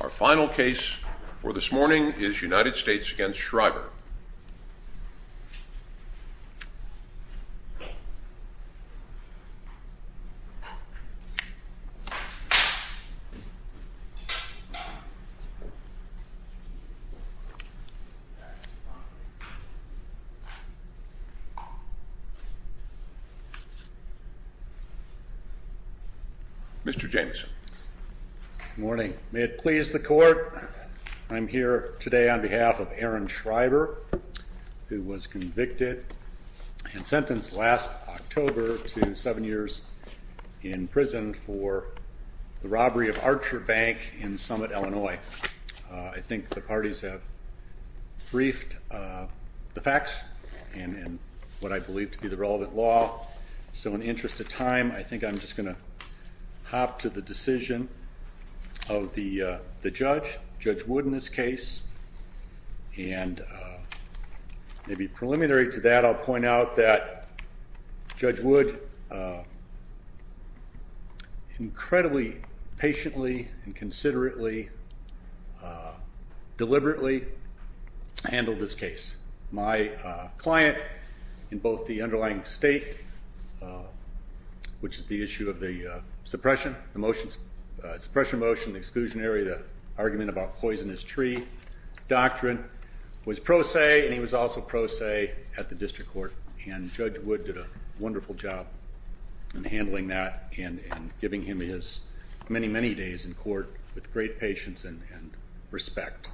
Our final case for this morning is United States v. Schreiber Mr. Jameson Good morning. May it please the court, I'm here today on behalf of Aaron Schreiber, who was convicted and sentenced last October to seven years in prison for the robbery of Archer Bank in Summit, Illinois. I think the parties have briefed the facts and what I believe to be the relevant law, so in the interest of time I think I'm just going to hop to the decision of the judge, Judge Wood in this case. And maybe preliminary to that, I'll point out that Judge Wood incredibly patiently and considerably, deliberately handled this case. My client in both the underlying state, which is the issue of the suppression motion, the exclusionary, the argument about poisonous tree doctrine, was pro se and he was also pro se at the district court. And Judge Wood did a wonderful job in handling that and giving him his many, many days in court with great patience and respect.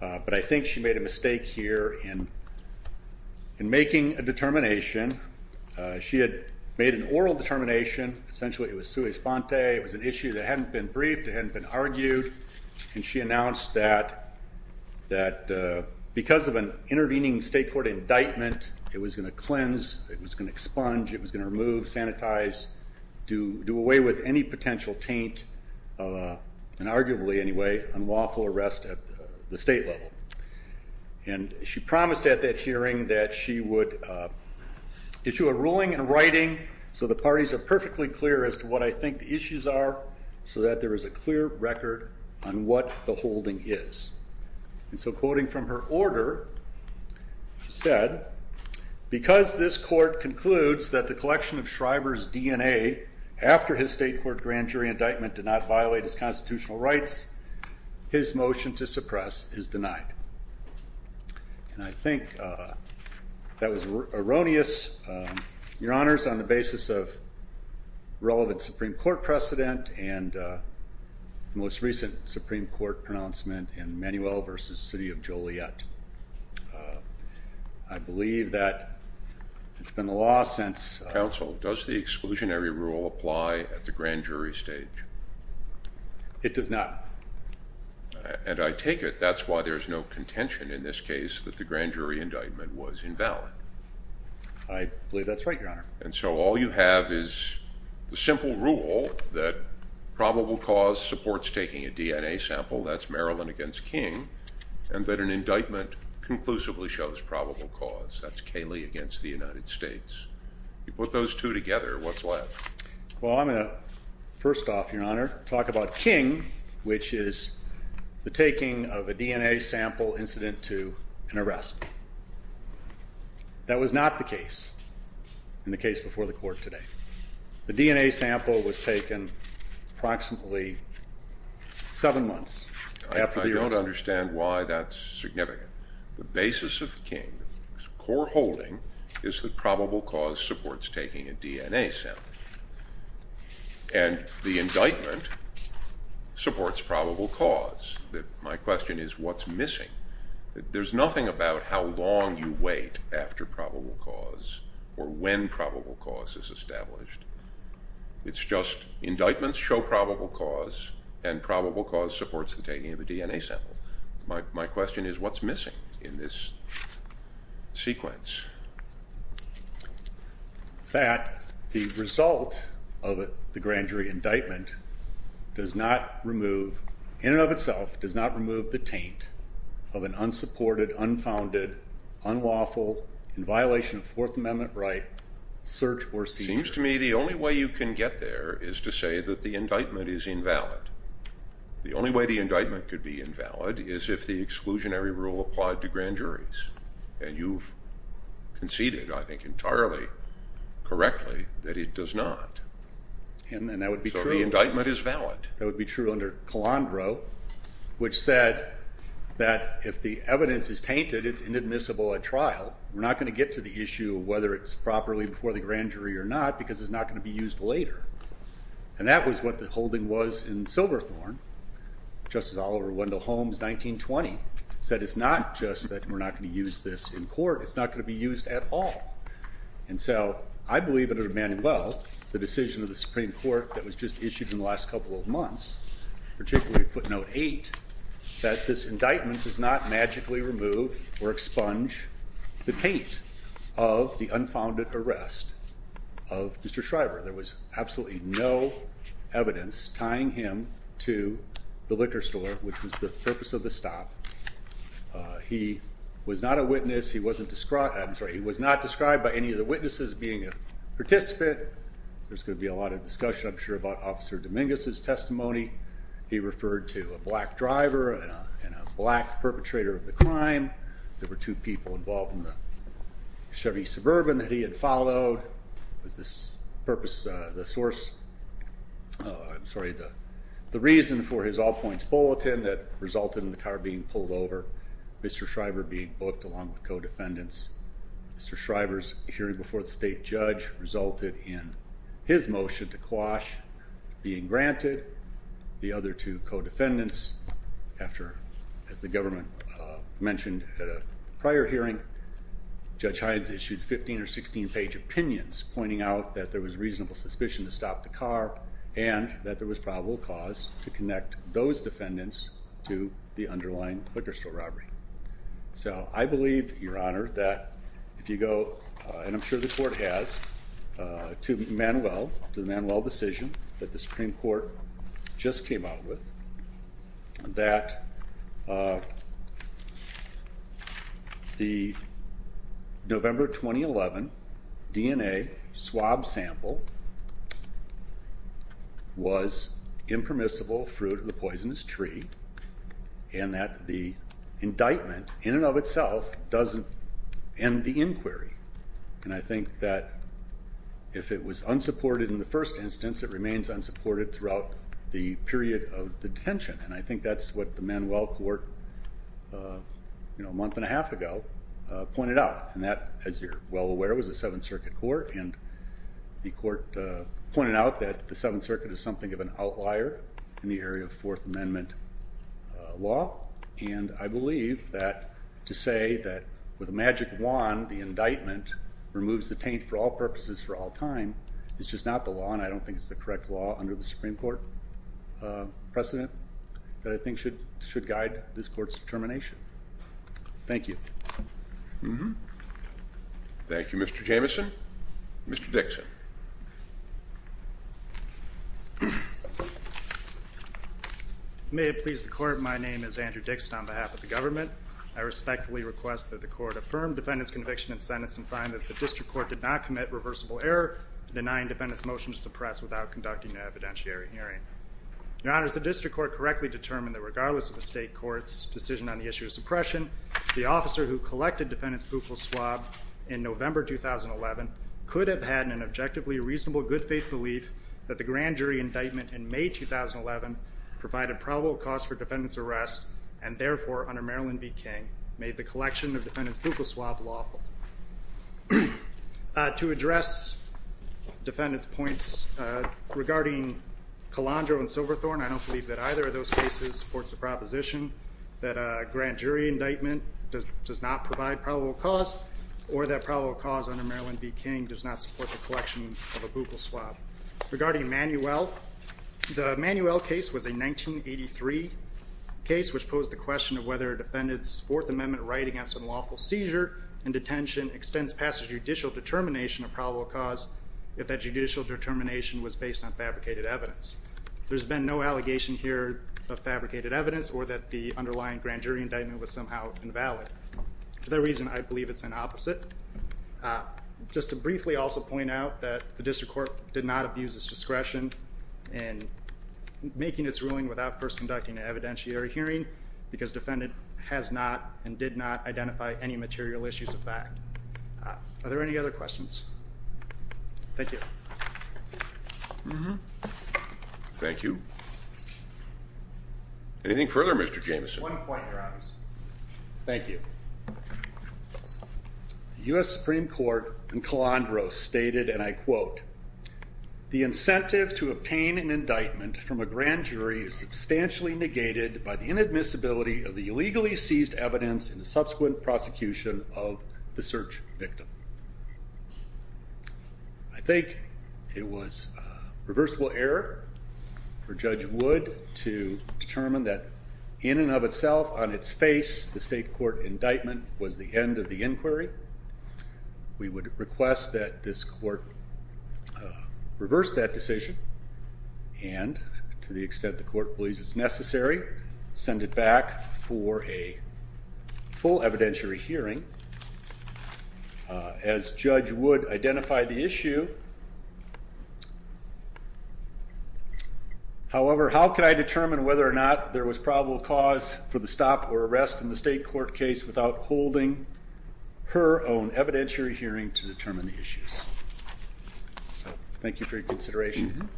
But I think she made a mistake here in making a determination. She had made an oral determination, essentially it was sui sponte, it was an issue that hadn't been briefed, it hadn't been argued, and she announced that because of an intervening state court indictment, it was going to cleanse, it was going to expunge, it was going to remove, sanitize, do away with any potential taint, and arguably anyway, unlawful arrest at the state level. And she promised at that hearing that she would issue a ruling in writing so the parties are perfectly clear as to what I think the issues are, so that there is a clear record on what the holding is. And so quoting from her order, she said, because this court concludes that the collection of Shriver's DNA after his state court grand jury indictment did not violate his constitutional rights, his motion to suppress is denied. And I think that was erroneous, your honors, on the basis of relevant Supreme Court precedent and the most recent Supreme Court pronouncement in Manuel v. City of Joliet. I believe that it's been the law since... Counsel, does the exclusionary rule apply at the grand jury stage? It does not. And I take it that's why there's no contention in this case that the grand jury indictment was invalid. I believe that's right, your honor. And so all you have is the simple rule that probable cause supports taking a DNA sample, that's Maryland against King, and that an indictment conclusively shows probable cause, that's Cayley against the United States. You put those two together, what's left? Well, I'm going to first off, your honor, talk about King, which is the taking of a DNA sample incident to an arrest. That was not the case in the case before the court today. The DNA sample was taken approximately seven months after the arrest. I don't understand why that's significant. The basis of King's core holding is that probable cause supports taking a DNA sample. And the indictment supports probable cause. My question is what's missing? There's nothing about how long you wait after probable cause or when probable cause is established. It's just indictments show probable cause and probable cause supports the taking of a DNA sample. My question is what's missing in this sequence? That the result of the grand jury indictment does not remove, in and of itself, does not remove the taint of an unsupported, unfounded, unlawful, in violation of Fourth Amendment right, search or seizure. It seems to me the only way you can get there is to say that the indictment is invalid. The only way the indictment could be invalid is if the exclusionary rule applied to grand juries. And you've conceded, I think entirely correctly, that it does not. And that would be true. So the indictment is valid. That would be true under Calandro, which said that if the evidence is tainted, it's inadmissible at trial. We're not going to get to the issue of whether it's properly before the grand jury or not because it's not going to be used later. And that was what the holding was in Silverthorne. Justice Oliver Wendell Holmes, 1920, said it's not just that we're not going to use this in court. It's not going to be used at all. And so I believe it would have been well, the decision of the Supreme Court that was just issued in the last couple of months, particularly footnote eight, that this indictment does not magically remove or expunge the taint of the unfounded arrest of Mr. Schreiber. There was absolutely no evidence tying him to the liquor store, which was the purpose of the stop. He was not a witness. He wasn't described. He was not described by any of the witnesses being a participant. There's going to be a lot of discussion, I'm sure, about Officer Dominguez's testimony. He referred to a black driver and a black perpetrator of the crime. There were two people involved in the Chevy Suburban that he had followed. It was the purpose, the source, I'm sorry, the reason for his all-points bulletin that resulted in the car being pulled over, Mr. Schreiber being booked along with co-defendants. Mr. Schreiber's hearing before the state judge resulted in his motion to quash being granted, the other two co-defendants. As the government mentioned at a prior hearing, Judge Hines issued 15- or 16-page opinions pointing out that there was reasonable suspicion to stop the car and that there was probable cause to connect those defendants to the underlying liquor store robbery. So I believe, Your Honor, that if you go, and I'm sure the court has, to Manuel, to the Manuel decision that the Supreme Court just came out with, that the November 2011 DNA swab sample was impermissible fruit of the poisonous tree and that the indictment, in and of itself, doesn't end the inquiry. And I think that if it was unsupported in the first instance, it remains unsupported throughout the period of the detention. And I think that's what the Manuel court, you know, a month and a half ago, pointed out. And that, as you're well aware, was a Seventh Circuit court. And the court pointed out that the Seventh Circuit is something of an outlier in the area of Fourth Amendment law. And I believe that to say that with a magic wand, the indictment removes the taint for all purposes for all time is just not the law. And I don't think it's the correct law under the Supreme Court precedent that I think should guide this court's determination. Thank you. Thank you, Mr. Jamieson. Mr. Dixon. May it please the court, my name is Andrew Dixon on behalf of the government. I respectfully request that the court affirm defendant's conviction in sentence and find that the district court did not commit reversible error denying defendant's motion to suppress without conducting an evidentiary hearing. Your Honor, has the district court correctly determined that regardless of the state court's decision on the issue of suppression, the officer who collected defendant's buccal swab in November 2011 could have had an objectively reasonable good faith belief that the grand jury indictment in May 2011 provided probable cause for defendant's arrest and therefore, under Maryland v. King, made the collection of defendant's buccal swab lawful. To address defendant's points regarding Calandro and Silverthorne, I don't believe that either of those cases supports the proposition that a grand jury indictment does not provide probable cause or that probable cause under Maryland v. King does not support the collection of a buccal swab. Regarding Manuel, the Manuel case was a 1983 case which posed the question of whether a defendant's Fourth Amendment right against unlawful seizure and detention extends past the judicial determination of probable cause if that judicial determination was based on fabricated evidence. There's been no allegation here of fabricated evidence or that the underlying grand jury indictment was somehow invalid. For that reason, I believe it's an opposite. Just to briefly also point out that the district court did not abuse its discretion in making its ruling without first conducting an evidentiary hearing because defendant has not and did not identify any material issues of fact. Are there any other questions? Thank you. Thank you. Anything further, Mr. Jameson? One point, Your Honors. Thank you. The U.S. Supreme Court in Calandro stated, and I quote, the incentive to obtain an indictment from a grand jury is substantially negated by the inadmissibility of the illegally seized evidence in the subsequent prosecution of the search victim. I think it was a reversible error for Judge Wood to determine that in and of itself, on its face, the state court indictment was the end of the inquiry. We would request that this court reverse that decision and to the extent the court believes it's necessary, send it back for a full evidentiary hearing. As Judge Wood identified the issue, however, how can I determine whether or not there was probable cause for the stop or arrest in the state court case without holding her own evidentiary hearing to determine the issues? So thank you for your consideration.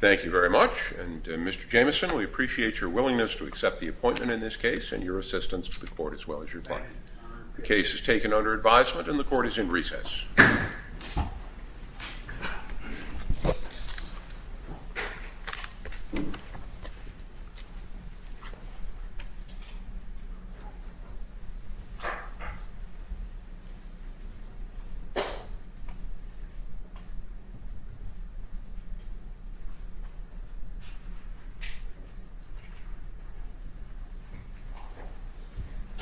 Thank you very much. And, Mr. Jameson, we appreciate your willingness to accept the appointment in this case and your assistance to the court as well as your client. The case is taken under advisement and the court is in recess. Thank you.